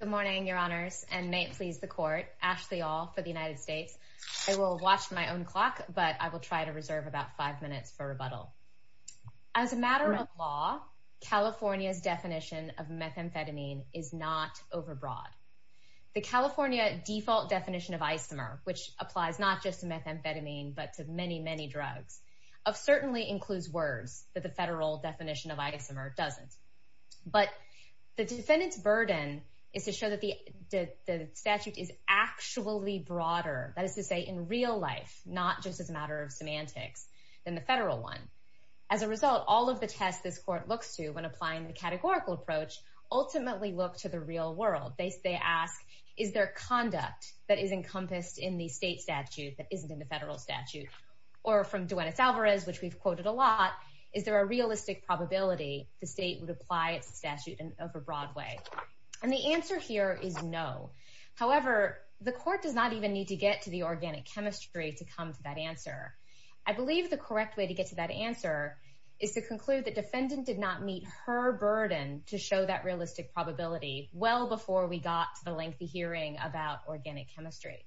Good morning, your honors, and may it please the court, Ashley Aul for the United States. I will watch my own clock, but I will try to reserve about five minutes for rebuttal. As a matter of law, California's definition of methamphetamine is not overbroad. The California default definition of isomer, which applies not just to methamphetamine, but to many, many drugs, certainly includes words that the federal definition of isomer doesn't. But the defendant's burden is to show that the statute is actually broader, that is to say in real life, not just as a matter of semantics, than the federal one. As a result, all of the tests this court looks to when applying the categorical approach ultimately look to the real world. They ask, is there conduct that is encompassed in the state statute that isn't in the federal statute? Or from Duenas Alvarez, which we've quoted a lot, is there a realistic probability the statute is an overbroad way? And the answer here is no. However, the court does not even need to get to the organic chemistry to come to that answer. I believe the correct way to get to that answer is to conclude the defendant did not meet her burden to show that realistic probability well before we got to the lengthy hearing about organic chemistry.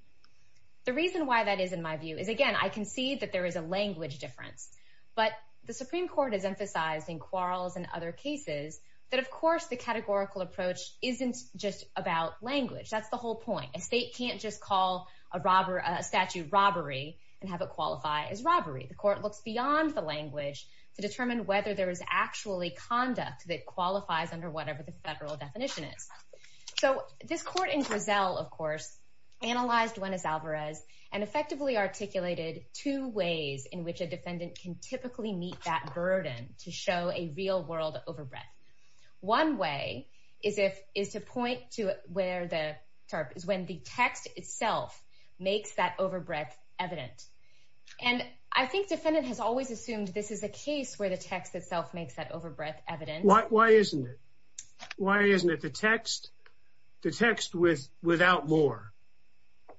The reason why that is, in my view, is again, I can see that there is a language difference. But the Supreme Court has emphasized in Quarles and other cases that, of course, the categorical approach isn't just about language. That's the whole point. A state can't just call a statute robbery and have it qualify as robbery. The court looks beyond the language to determine whether there is actually conduct that qualifies under whatever the federal definition is. So this court in Griselle, of course, analyzed Duenas Alvarez and effectively articulated two ways in which a defendant can typically meet that burden to show a real-world overbreath. One way is to point to where the text itself makes that overbreath evident. And I think defendant has always assumed this is a case where the text itself makes that overbreath evident. Why isn't it? Because the text without more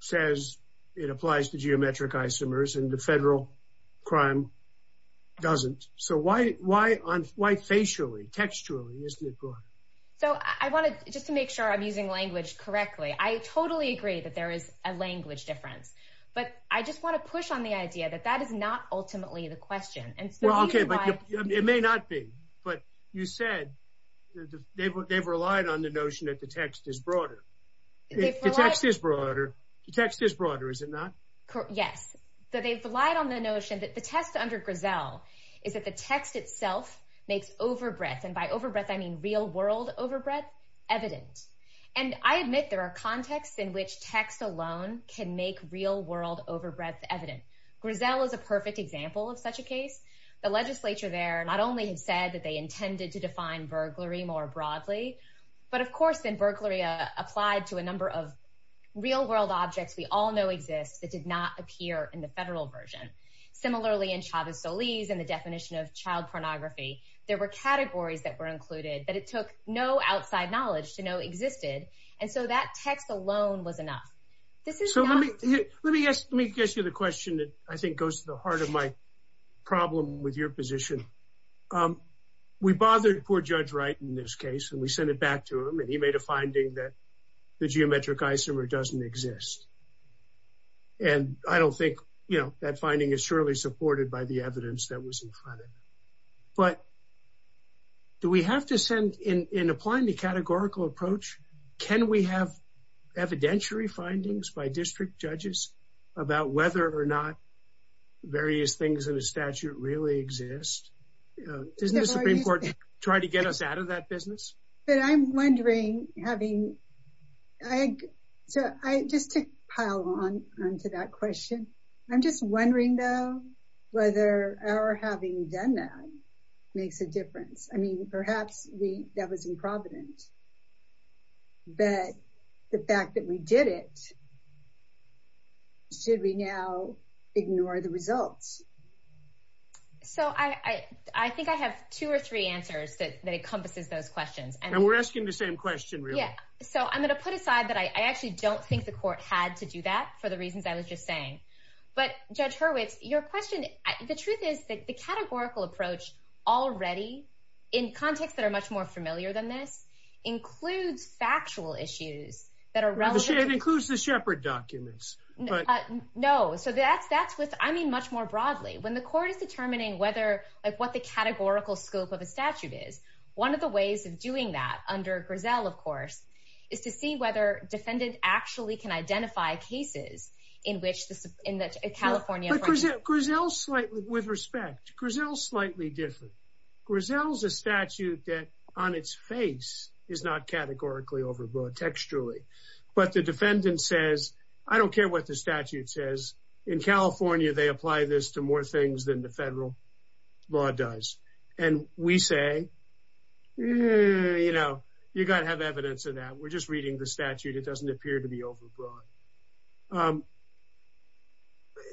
says it applies to geometric isomers and the federal crime doesn't. So why facially, textually, isn't it, Brouhaha? So I wanted just to make sure I'm using language correctly. I totally agree that there is a language difference, but I just want to push on the idea that that is not ultimately the question. It may not be, but you said they've relied on the notion that the text is broader. The text is broader, the text is broader, is it not? Yes. They've relied on the notion that the test under Griselle is that the text itself makes overbreath, and by overbreath I mean real-world overbreath, evident. And I admit there are contexts in which text alone can make real-world overbreath evident. Griselle is a perfect example of such a case. The legislature there not only said that they intended to define burglary more broadly, but of course then burglary applied to a number of real-world objects we all know exist that did not appear in the federal version. Similarly in Chavez-Solis and the definition of child pornography, there were categories that were included, but it took no outside knowledge to know existed, and so that text alone was enough. So let me ask you the question that I think goes to the heart of my problem with your position. We bothered poor Judge Wright in this case, and we sent it back to him, and he made a finding that the geometric isomer doesn't exist. And I don't think, you know, that finding is surely supported by the evidence that was in front of it. But do we have to send, in applying the categorical approach, can we have evidentiary findings by district judges about whether or not various things in a statute really exist? Doesn't the Supreme Court try to get us out of that business? But I'm wondering, having, so just to pile on to that question, I'm just wondering though whether our having done that makes a difference. I mean, perhaps that was improvident, but the fact that we did it, should we now ignore the results? So I think I have two or three answers that encompasses those questions. And we're asking the same question, really. Yeah. So I'm going to put aside that I actually don't think the court had to do that for the reasons I was just saying. But Judge Hurwitz, your question, the truth is that the categorical approach already, in contexts that are much more familiar than this, includes factual issues that are relevant to- It includes the Shepard documents. But- No. So that's what, I mean, much more broadly. When the court is determining whether, like what the categorical scope of a statute is, one of the ways of doing that under Griselle, of course, is to see whether defendant actually can identify cases in which the California- But Griselle's slightly, with respect, Griselle's slightly different. Griselle's a statute that, on its face, is not categorically overbroad, textually. But the defendant says, I don't care what the statute says. In California, they apply this to more things than the federal law does. And we say, you know, you got to have evidence of that. We're just reading the statute. It doesn't appear to be overbroad.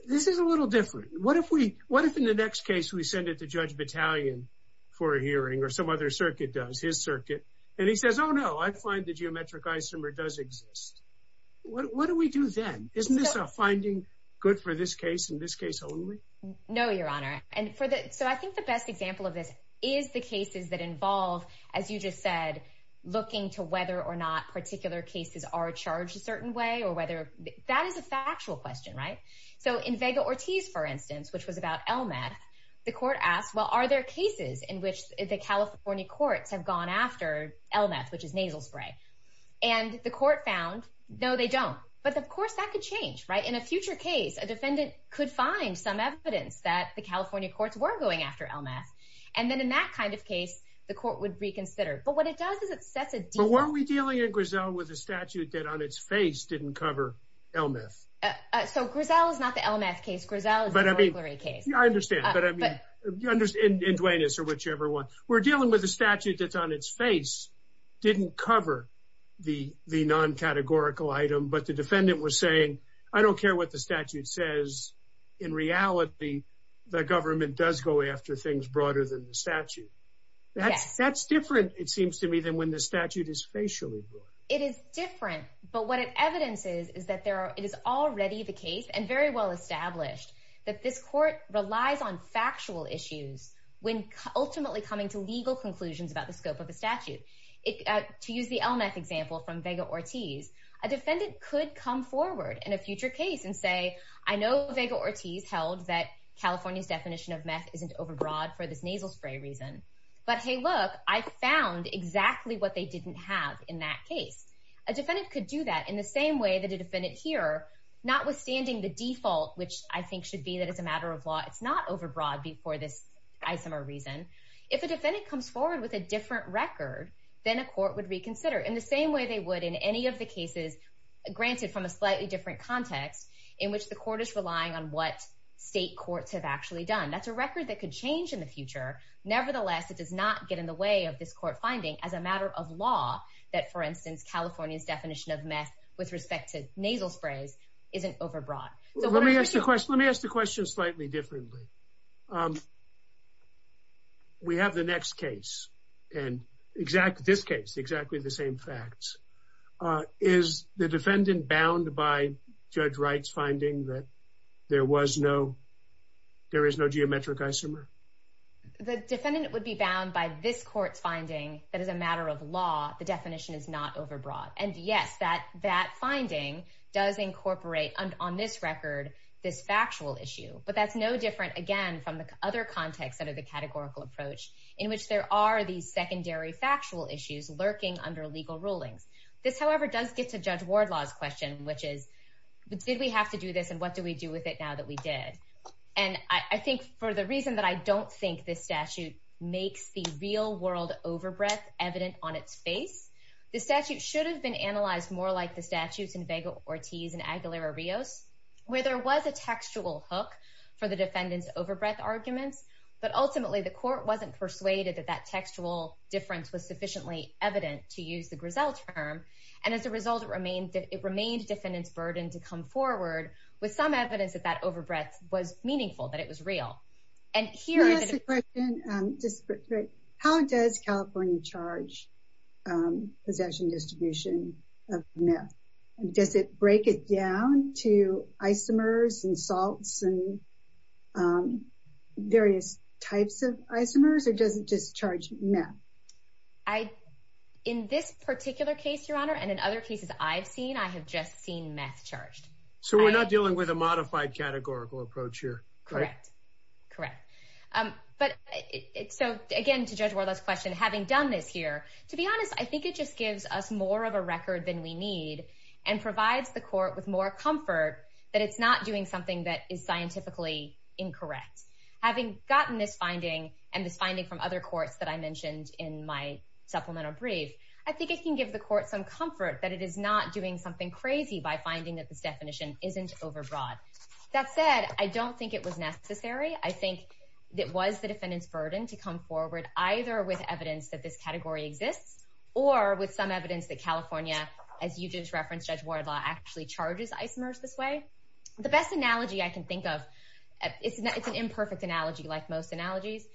This is a little different. What if we, what if in the next case, we send it to Judge Battalion for a hearing, or some other circuit does, his circuit, and he says, oh no, I find the geometric isomer does exist. What do we do then? Isn't this a finding good for this case and this case only? No, Your Honor. And for the, so I think the best example of this is the cases that involve, as you just said, looking to whether or not particular cases are charged a certain way, or whether, that is a factual question, right? So in Vega-Ortiz, for instance, which was about LMATH, the court asked, well, are there cases in which the California courts have gone after LMATH, which is nasal spray? And the court found, no, they don't. But of course, that could change, right? In a future case, a defendant could find some evidence that the California courts were going after LMATH. And then in that kind of case, the court would reconsider. But what it does is it sets a default. But weren't we dealing in Griselle with a statute that on its face didn't cover LMATH? So Griselle is not the LMATH case, Griselle is the Montgomery case. I understand. But I mean, in Duenas or whichever one, we're dealing with a statute that's on its face, didn't cover the non-categorical item, but the defendant was saying, I don't care what the statute says, in reality, the government does go after things broader than the statute. That's different, it seems to me, than when the statute is facially broad. It is different. But what it evidences is that it is already the case and very well established that this court relies on factual issues when ultimately coming to legal conclusions about the scope of a statute. To use the LMATH example from Vega-Ortiz, a defendant could come forward in a future case and say, I know Vega-Ortiz held that California's definition of MATH isn't overbroad for this nasal spray reason, but hey, look, I found exactly what they didn't have in that case. A defendant could do that in the same way that a defendant here, notwithstanding the default, which I think should be that it's a matter of law, it's not overbroad for this isomer reason. If a defendant comes forward with a different record, then a court would reconsider in the same way they would in any of the cases granted from a slightly different context in which the court is relying on what state courts have actually done. That's a record that could change in the future. Nevertheless, it does not get in the way of this court finding as a matter of law that, for instance, California's definition of MATH with respect to nasal sprays isn't overbroad. Let me ask the question slightly differently. We have the next case and this case, exactly the same facts. Is the defendant bound by Judge Wright's finding that there was no, there is no geometric isomer? The defendant would be bound by this court's finding that as a matter of law, the definition is not overbroad. And yes, that finding does incorporate on this record, this factual issue, but that's no different again from the other contexts under the categorical approach in which there are these secondary factual issues lurking under legal rulings. This however, does get to Judge Wardlaw's question, which is, did we have to do this and what do we do with it now that we did? And I think for the reason that I don't think this statute makes the real world overbreath evident on its face, the statute should have been analyzed more like the statutes in Vega-Ortiz and Aguilera-Rios, where there was a textual hook for the defendant's overbreath arguments, but ultimately the court wasn't persuaded that that textual difference was sufficiently evident to use the Griselle term. And as a result, it remained, it remained defendant's burden to come forward with some evidence that that overbreath was meaningful, that it was real. And here- Can I ask a question? How does California charge possession distribution of meth? Does it break it down to isomers and salts and various types of isomers, or does it just charge meth? In this particular case, Your Honor, and in other cases I've seen, I have just seen meth charged. So we're not dealing with a modified categorical approach here? Correct. Correct. But so again, to Judge Wardlaw's question, having done this here, to be honest, I think it just gives us more of a record than we need and provides the court with more comfort that it's not doing something that is scientifically incorrect. Having gotten this finding and this finding from other courts that I mentioned in my supplemental brief, I think it can give the court some comfort that it is not doing something crazy by finding that this definition isn't overbroad. That said, I don't think it was necessary. I think it was the defendant's burden to come forward either with evidence that this category exists or with some evidence that California, as you just referenced, Judge Wardlaw, actually charges isomers this way. The best analogy I can think of, it's an imperfect analogy like most analogies,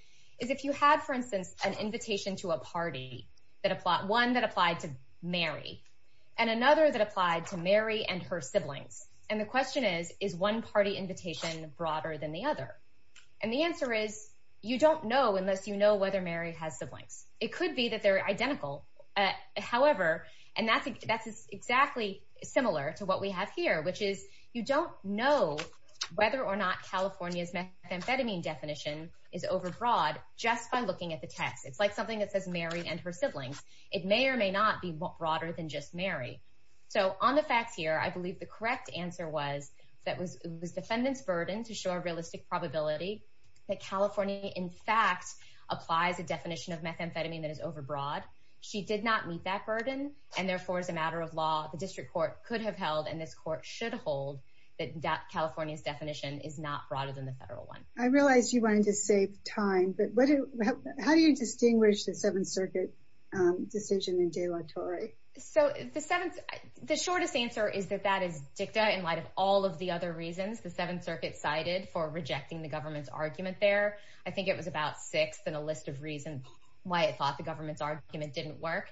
is if you had, for instance, an invitation to a party, one that applied to Mary and another that applied to Mary and her siblings. And the question is, is one party invitation broader than the other? And the answer is, you don't know unless you know whether Mary has siblings. It could be that they're identical. However, and that's exactly similar to what we have here, which is you don't know whether or not California's methamphetamine definition is overbroad just by looking at the text. It's like something that says Mary and her siblings. It may or may not be broader than just Mary. So on the facts here, I believe the correct answer was that it was the defendant's burden to show a realistic probability that California, in fact, applies a definition of methamphetamine that is overbroad. She did not meet that burden, and therefore, as a matter of law, the district court could have held and this court should hold that California's definition is not broader than the federal one. I realize you wanted to save time, but how do you distinguish the Seventh Circuit decision in De La Torre? So the shortest answer is that that is dicta in light of all of the other reasons the Seventh Circuit cited for rejecting the government's argument there. I think it was about sixth in a list of reasons why it thought the government's argument didn't work.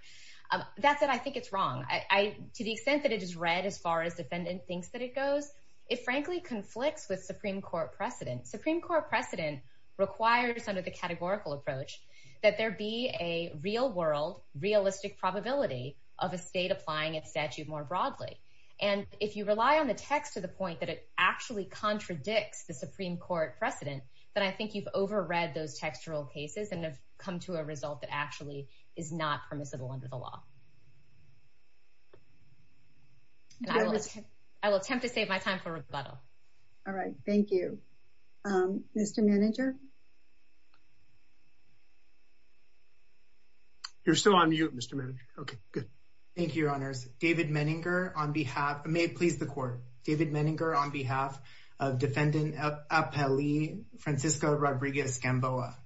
That's it. I think it's wrong. To the extent that it is read as far as defendant thinks that it goes, it frankly conflicts with Supreme Court precedent. Supreme Court precedent requires under the categorical approach that there be a real world realistic probability of a state applying its statute more broadly. And if you rely on the text to the point that it actually contradicts the Supreme Court precedent, then I think you've overread those textural cases and have come to a result that actually is not permissible under the law. I will attempt to save my time for rebuttal. All right. Thank you. Mr. Manager. You're still on mute, Mr. Manager. Okay, good. Thank you, Your Honors. David Menninger, on behalf, may it please the Court, David Menninger, on behalf of Defendant Apeli Francisco Rodriguez-Gamboa.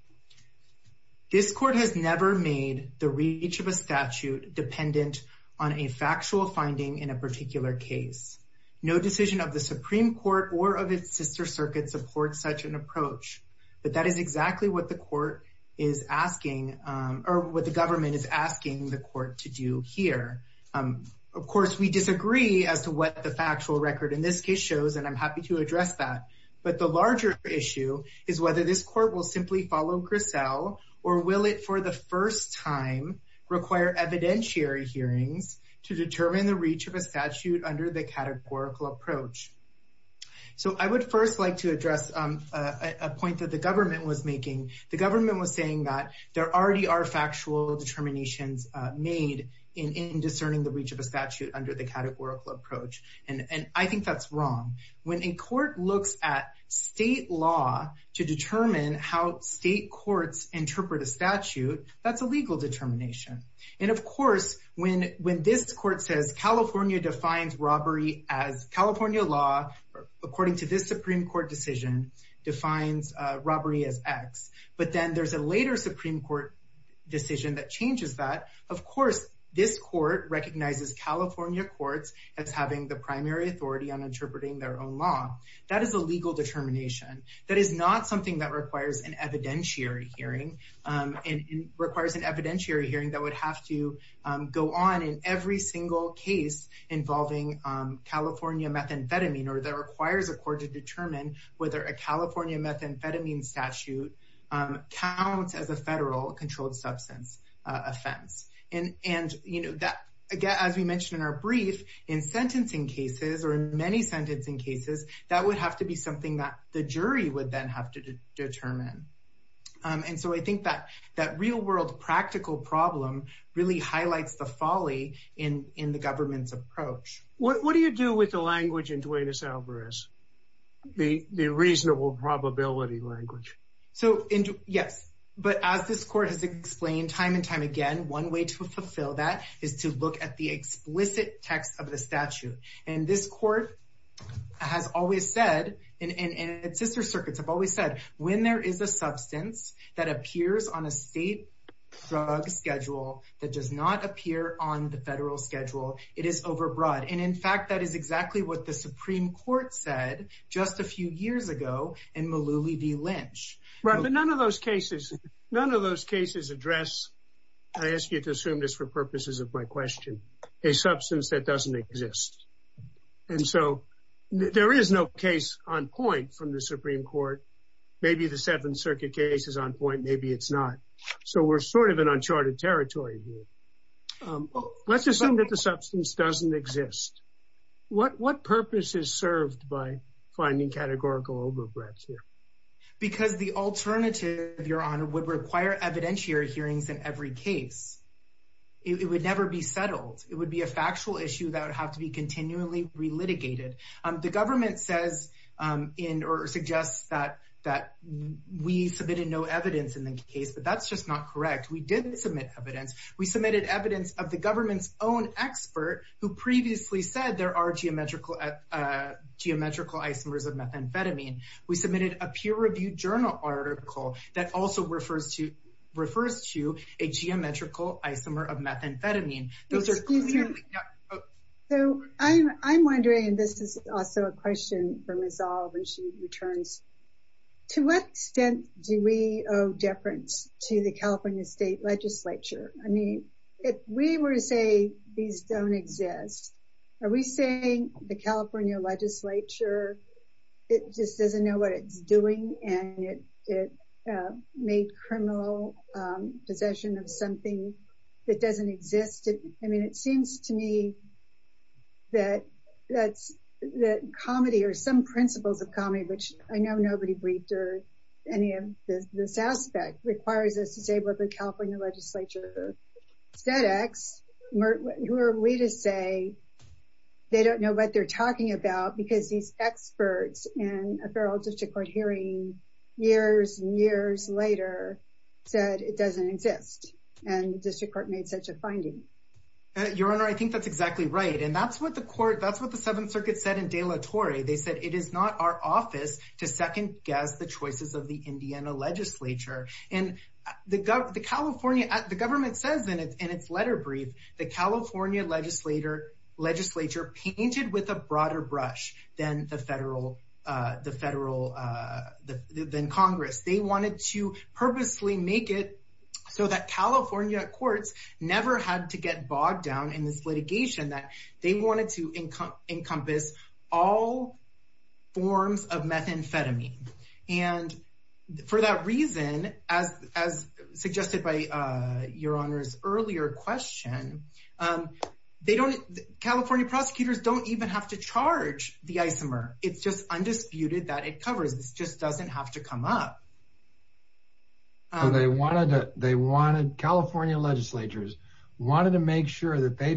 This Court has never made the reach of a statute dependent on a factual finding in a particular case. No decision of the Supreme Court or of its sister circuit supports such an approach. But that is exactly what the Court is asking, or what the government is asking the Court to do here. Of course, we disagree as to what the factual record in this case shows, and I'm happy to address that. But the larger issue is whether this Court will simply follow Griselle, or will it for the first time require evidentiary hearings to determine the reach of a statute under the categorical approach? So I would first like to address a point that the government was making. The government was saying that there already are factual determinations made in discerning the reach of a statute under the categorical approach, and I think that's wrong. When a Court looks at state law to determine how state courts interpret a statute, that's a legal determination. And of course, when this Court says California defines robbery as California law, according to this Supreme Court decision, defines robbery as X, but then there's a later Supreme Court decision that changes that. Of course, this Court recognizes California courts as having the primary authority on interpreting their own law. That is a legal determination. That is not something that requires an evidentiary hearing, and requires an evidentiary hearing that would have to go on in every single case involving California methamphetamine, or that would require the Supreme Court to determine whether a California methamphetamine statute counts as a federal controlled substance offense. And, you know, as we mentioned in our brief, in sentencing cases, or in many sentencing cases, that would have to be something that the jury would then have to determine. And so I think that real world practical problem really highlights the folly in the government's approach. What do you do with the language in Duenas-Alvarez? The reasonable probability language? So yes, but as this Court has explained time and time again, one way to fulfill that is to look at the explicit text of the statute. And this Court has always said, and its sister circuits have always said, when there is a substance that appears on a state drug schedule that does not appear on the federal schedule, it is overbroad. And in fact, that is exactly what the Supreme Court said just a few years ago in Mullooly v. Lynch. Right, but none of those cases, none of those cases address, I ask you to assume this for purposes of my question, a substance that doesn't exist. And so there is no case on point from the Supreme Court. Maybe the Seventh Circuit case is on point, maybe it's not. So we're sort of in uncharted territory here. Let's assume that the substance doesn't exist. What purpose is served by finding categorical overbreadth here? Because the alternative, Your Honor, would require evidentiary hearings in every case. It would never be settled. It would be a factual issue that would have to be continually re-litigated. The government says in, or suggests that we submitted no evidence in the case, but that's just not correct. We did submit evidence. We submitted evidence of the government's own expert who previously said there are geometrical isomers of methamphetamine. We submitted a peer-reviewed journal article that also refers to a geometrical isomer of methamphetamine. Those are clearly not- Excuse me. So I'm wondering, and this is also a question for Ms. Olive when she returns, to what extent do we owe deference to the California State Legislature? I mean, if we were to say these don't exist, are we saying the California Legislature, it just doesn't know what it's doing, and it made criminal possession of something that doesn't exist? I mean, it seems to me that comedy, or some principles of comedy, which I know nobody has ever briefed or any of this aspect, requires us to say what the California Legislature said. Who are we to say they don't know what they're talking about because these experts in a federal district court hearing years and years later said it doesn't exist, and the district court made such a finding. Your Honor, I think that's exactly right. And that's what the court, that's what the Seventh Circuit said in De La Torre. They said it is not our office to second-guess the choices of the Indiana Legislature. And the California, the government says in its letter brief, the California Legislature painted with a broader brush than the federal, than Congress. They wanted to purposely make it so that California courts never had to get bogged down in this forms of methamphetamine. And for that reason, as suggested by Your Honor's earlier question, they don't, California prosecutors don't even have to charge the isomer. It's just undisputed that it covers, this just doesn't have to come up. So they wanted to, they wanted, California legislatures wanted to make sure that they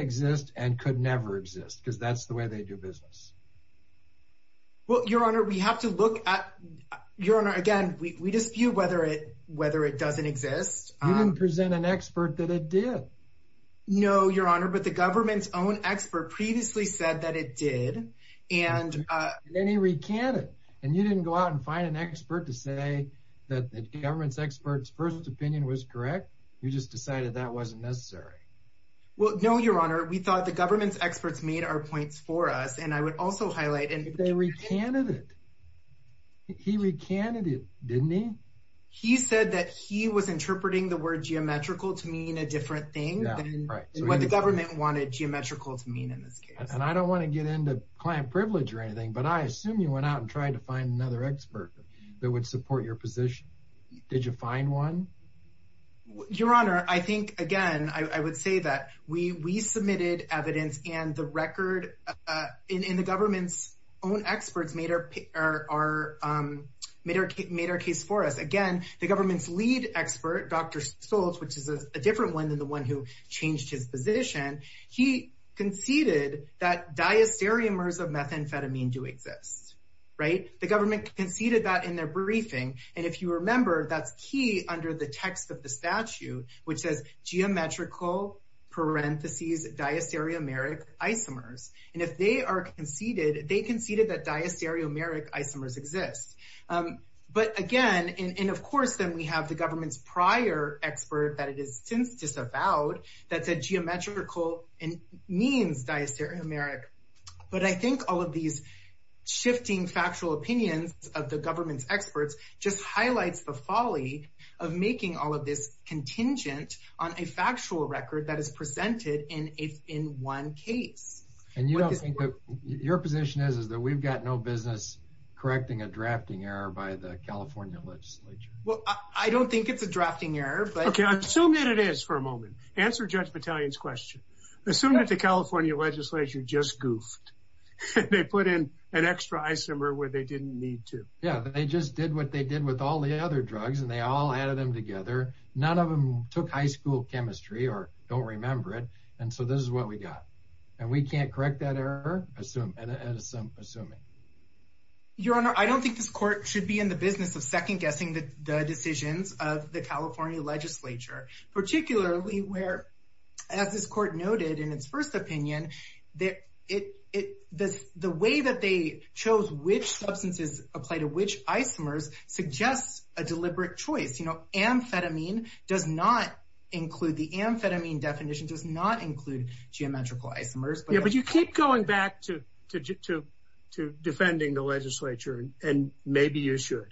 exist and could never exist, because that's the way they do business. Well, Your Honor, we have to look at, Your Honor, again, we dispute whether it, whether it doesn't exist. You didn't present an expert that it did. No, Your Honor, but the government's own expert previously said that it did. And then he recanted, and you didn't go out and find an expert to say that the government's expert's first opinion was correct. You just decided that wasn't necessary. Well, no, Your Honor, we thought the government's experts made our points for us. And I would also highlight, and they recanted it, he recanted it, didn't he? He said that he was interpreting the word geometrical to mean a different thing than what the government wanted geometrical to mean in this case. And I don't want to get into client privilege or anything, but I assume you went out and tried to find another expert that would support your position. Did you find one? Your Honor, I think, again, I would say that we, we submitted evidence and the record in the government's own experts made our, made our case for us. Again, the government's lead expert, Dr. Stoltz, which is a different one than the one who changed his position, he conceded that diastereomers of methamphetamine do exist, right? The government conceded that in their briefing. And if you remember, that's key under the text of the statute, which says geometrical parentheses diastereomeric isomers. And if they are conceded, they conceded that diastereomeric isomers exist. But again, and of course, then we have the government's prior expert that it is since disavowed that said geometrical means diastereomeric. But I think all of these shifting factual opinions of the government's experts just highlights the folly of making all of this contingent on a factual record that is presented in a, in one case. And you don't think that your position is, is that we've got no business correcting a drafting error by the California legislature? Well, I don't think it's a drafting error, but... Okay, assume that it is for a moment. Answer Judge Battalion's question. Assume that the California legislature just goofed. They put in an extra isomer where they didn't need to. Yeah, they just did what they did with all the other drugs and they all added them together. None of them took high school chemistry or don't remember it. And so this is what we got. And we can't correct that error, assuming. Your Honor, I don't think this court should be in the business of second guessing the decisions of the California legislature, particularly where, as this court noted in its first opinion, the way that they chose which substances apply to which isomers suggests a deliberate choice. You know, amphetamine does not include, the amphetamine definition does not include geometrical isomers. Yeah, but you keep going back to defending the legislature and maybe you should.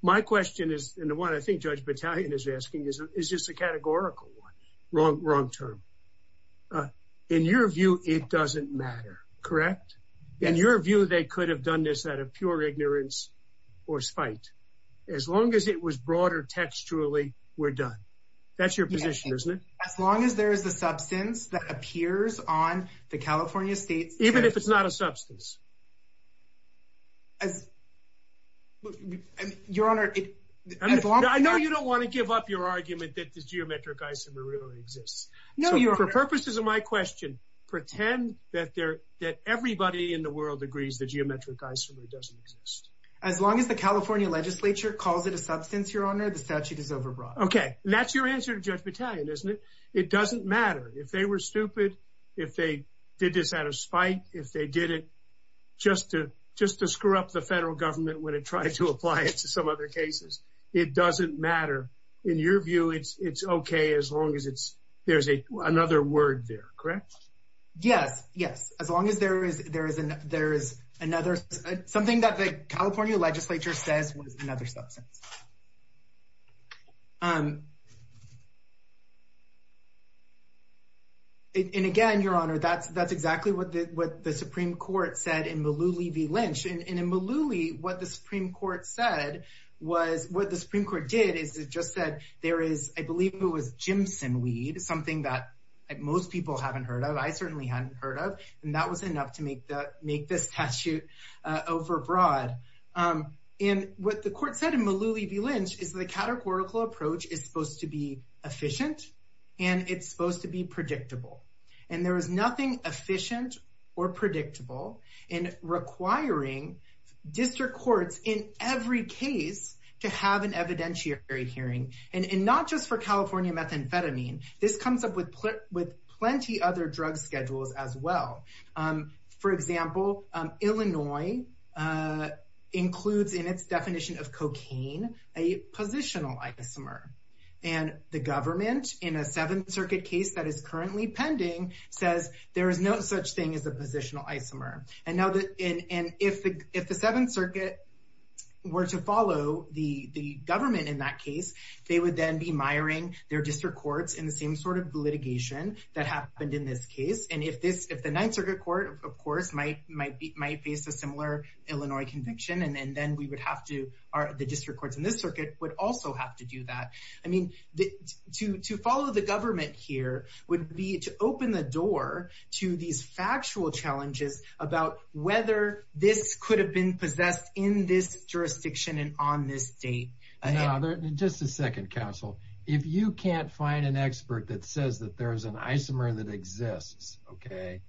My question is, and the one I think Judge Battalion is asking, is just a categorical one. Wrong term. In your view, it doesn't matter, correct? In your view, they could have done this out of pure ignorance or spite. As long as it was broader textually, we're done. That's your position, isn't it? As long as there is a substance that appears on the California state's... Even if it's not a substance. As... Your Honor... I know you don't want to give up your argument that the geometric isomer really exists. No, Your Honor. So, for purposes of my question, pretend that everybody in the world agrees the geometric isomer doesn't exist. As long as the California legislature calls it a substance, Your Honor, the statute is overbroad. Okay. And that's your answer to Judge Battalion, isn't it? It doesn't matter. If they were stupid, if they did this out of spite, if they did it out of pure ignorance, just to screw up the federal government when it tried to apply it to some other cases, it doesn't matter. In your view, it's okay as long as there's another word there, correct? Yes. Yes. As long as there is another... Something that the California legislature says was another substance. And again, Your Honor, that's exactly what the Supreme Court said in Malooly v. Lynch. And in Malooly, what the Supreme Court said was... What the Supreme Court did is it just said there is, I believe it was gymsinweed, something that most people haven't heard of, I certainly hadn't heard of, and that was enough to make this statute overbroad. And what the court said in Malooly v. Lynch is the categorical approach is supposed to be efficient and it's supposed to be predictable. And there is nothing efficient or predictable in requiring district courts in every case to have an evidentiary hearing, and not just for California methamphetamine. This comes up with plenty other drug schedules as well. For example, Illinois includes in its definition of cocaine a positional isomer. And the government, in a Seventh Circuit case that is currently pending, says there is no such thing as a positional isomer. And if the Seventh Circuit were to follow the government in that case, they would then be miring their district courts in the same sort of litigation that happened in this case. And if the Ninth Circuit Court, of course, might face a similar Illinois conviction, and then we would have to, the district courts in this circuit would also have to do that. I mean, to follow the government here would be to open the door to these factual challenges about whether this could have been possessed in this jurisdiction and on this date. Now, just a second, counsel. If you can't find an expert that says that there is an isomer that exists, okay,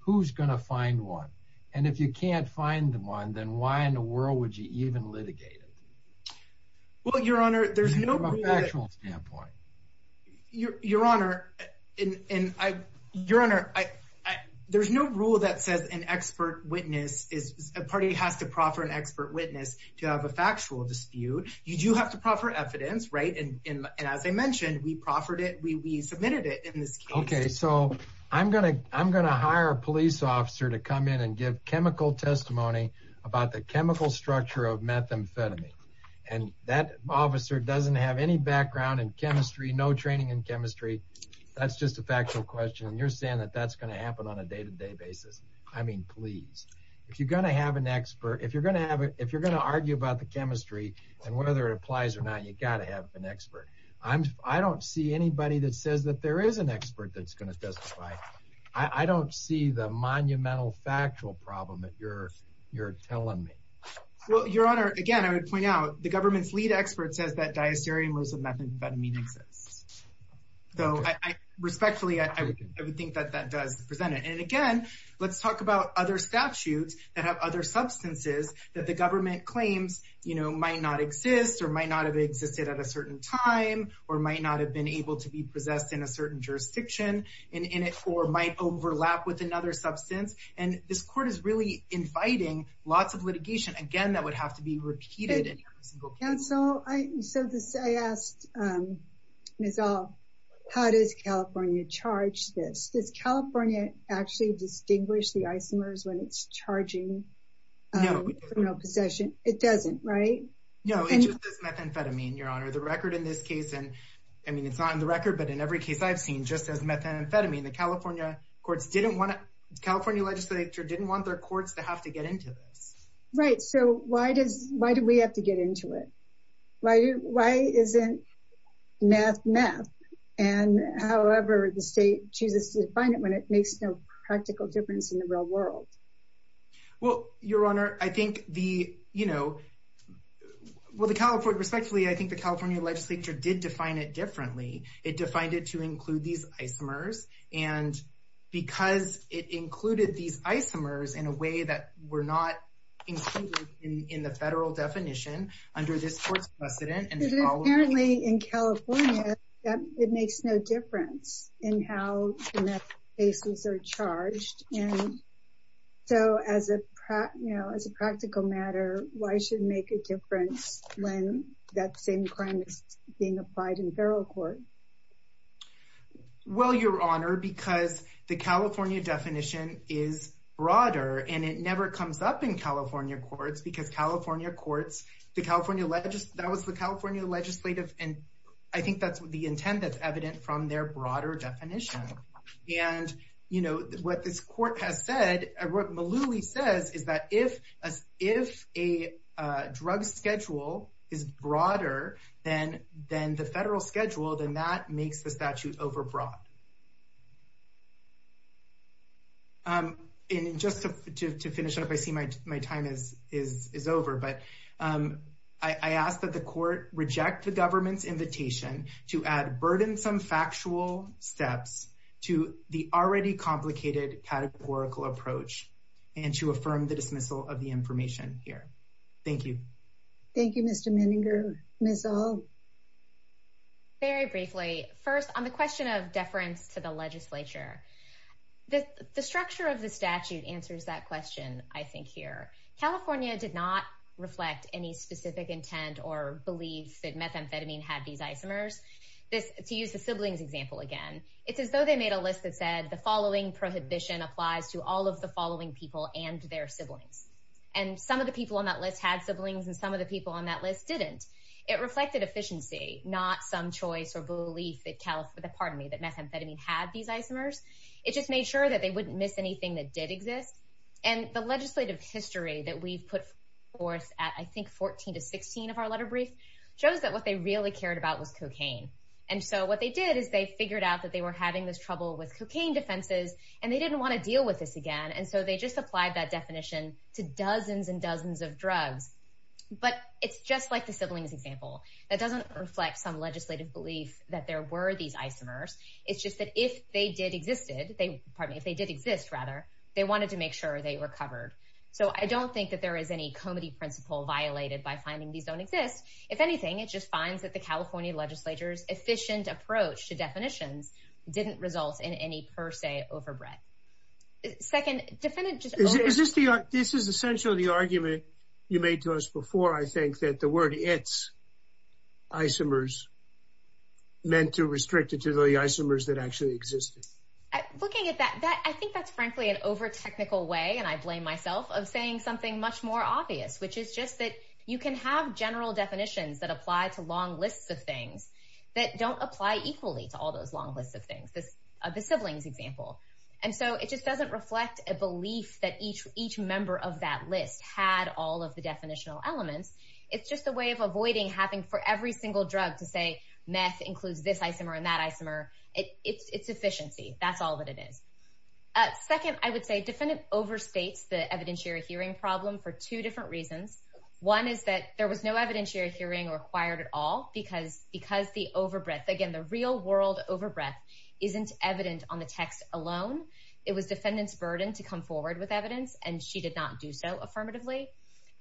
who's going to find one? And if you can't find one, then why in the world would you even litigate it? Well, Your Honor, there's no... From a factual standpoint. Your Honor, there's no rule that says a party has to proffer an expert witness to have a factual dispute. You do have to proffer evidence, right? And as I mentioned, we proffered it, we submitted it in this case. Okay, so I'm going to hire a police officer to come in and give chemical testimony about the chemical structure of methamphetamine. And that officer doesn't have any background in chemistry, no training in chemistry, that's just a factual question. And you're saying that that's going to happen on a day-to-day basis. I mean, please, if you're going to have an expert, if you're going to argue about the whether it applies or not, you got to have an expert. I don't see anybody that says that there is an expert that's going to testify. I don't see the monumental factual problem that you're telling me. Well, Your Honor, again, I would point out the government's lead expert says that diastereomers of methamphetamine exists. So respectfully, I would think that that does present it. And again, let's talk about other statutes that have other substances that the government claims might not exist, or might not have existed at a certain time, or might not have been able to be possessed in a certain jurisdiction, or might overlap with another substance. And this court is really inviting lots of litigation, again, that would have to be repeated in every single case. And so I asked Ms. Al, how does California charge this? Does California actually distinguish the isomers when it's charging criminal possession? It doesn't, right? No, it just says methamphetamine, Your Honor. The record in this case, and I mean, it's not in the record, but in every case I've seen, just as methamphetamine, the California courts didn't want to, California legislature didn't want their courts to have to get into this. Right. So why does, why do we have to get into it? Why isn't meth, meth? And however, the state chooses to define it when it makes no practical difference in the real world. Well, Your Honor, I think the, you know, well, the California, respectfully, I think the California legislature did define it differently. It defined it to include these isomers. And because it included these isomers in a way that were not included in the federal definition under this court's precedent. And apparently in California, it makes no difference in how the methamphetamines are charged. And so as a, you know, as a practical matter, why should it make a difference when that same crime is being applied in federal court? Well, Your Honor, because the California definition is broader and it never comes up in California courts because California courts, the California, that was the California legislative. And I think that's the intent that's evident from their broader definition. And, you know, what this court has said, what Malooly says is that if a drug schedule is broader than the federal schedule, then that makes the statute overbroad. And just to finish up, I see my time is over, but I ask that the court reject the government's burdensome factual steps to the already complicated categorical approach and to affirm the dismissal of the information here. Thank you. Thank you, Mr. Menninger. Ms. O'Hall. Very briefly. First, on the question of deference to the legislature, the structure of the statute answers that question, I think here. California did not reflect any specific intent or belief that methamphetamine had these isomers. To use the siblings example again, it's as though they made a list that said the following prohibition applies to all of the following people and their siblings. And some of the people on that list had siblings and some of the people on that list didn't. It reflected efficiency, not some choice or belief that, pardon me, that methamphetamine had these isomers. It just made sure that they wouldn't miss anything that did exist. And the legislative history that we've put forth at, I think, 14 to 16 of our letter brief shows that what they really cared about was cocaine. And so what they did is they figured out that they were having this trouble with cocaine defenses and they didn't want to deal with this again. And so they just applied that definition to dozens and dozens of drugs. But it's just like the siblings example. That doesn't reflect some legislative belief that there were these isomers. It's just that if they did existed, pardon me, if they did exist, rather, they wanted to make sure they were covered. So I don't think that there is any comedy principle violated by finding these don't exist. If anything, it just finds that the California legislature's efficient approach to definitions didn't result in any per se overbred. Second, this is essentially the argument you made to us before, I think, that the word it's isomers meant to restrict it to the isomers that actually existed. Looking at that, I think that's frankly an over technical way. And I blame myself of saying something much more obvious, which is just that you can have general definitions that apply to long lists of things that don't apply equally to all those long lists of things. The siblings example. And so it just doesn't reflect a belief that each each member of that list had all of the definitional elements. It's just a way of avoiding having for every single drug to say meth includes this isomer and that isomer. It's efficiency. That's all that it is. Second, I would say defendant overstates the evidentiary hearing problem for two different reasons. One is that there was no evidentiary hearing required at all because the overbred, again, the real world overbred isn't evident on the text alone. It was defendant's burden to come forward with evidence, and she did not do so affirmatively.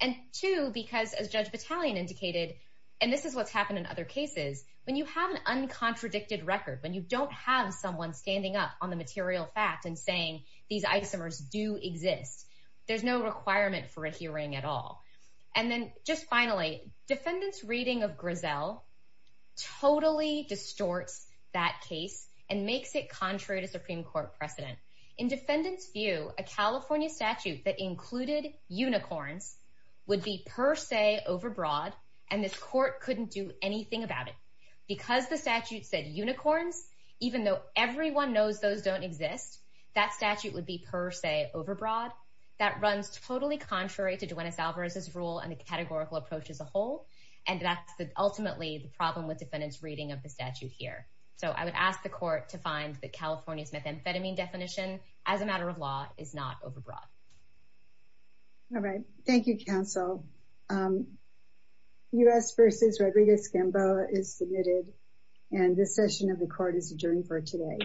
And two, because as Judge Battalion indicated, and this is what's happened in other cases, when you have an uncontradicted record, when you don't have someone standing up on the material fact and saying these isomers do exist, there's no requirement for a hearing at all. And then just finally, defendant's reading of Grizel totally distorts that case and makes it contrary to Supreme Court precedent. In defendant's view, a California statute that included unicorns would be per se overbroad, and this court couldn't do anything about it. Because the statute said unicorns, even though everyone knows those don't exist, that statute would be per se overbroad. That runs totally contrary to Duenas-Alvarez's rule and the categorical approach as a whole, and that's ultimately the problem with defendant's reading of the statute here. So I would ask the court to find that California's methamphetamine definition, as a matter of law, is not overbroad. All right. Thank you, counsel. Um, U.S. versus Rodriguez-Gamboa is submitted, and this session of the court is adjourned for today.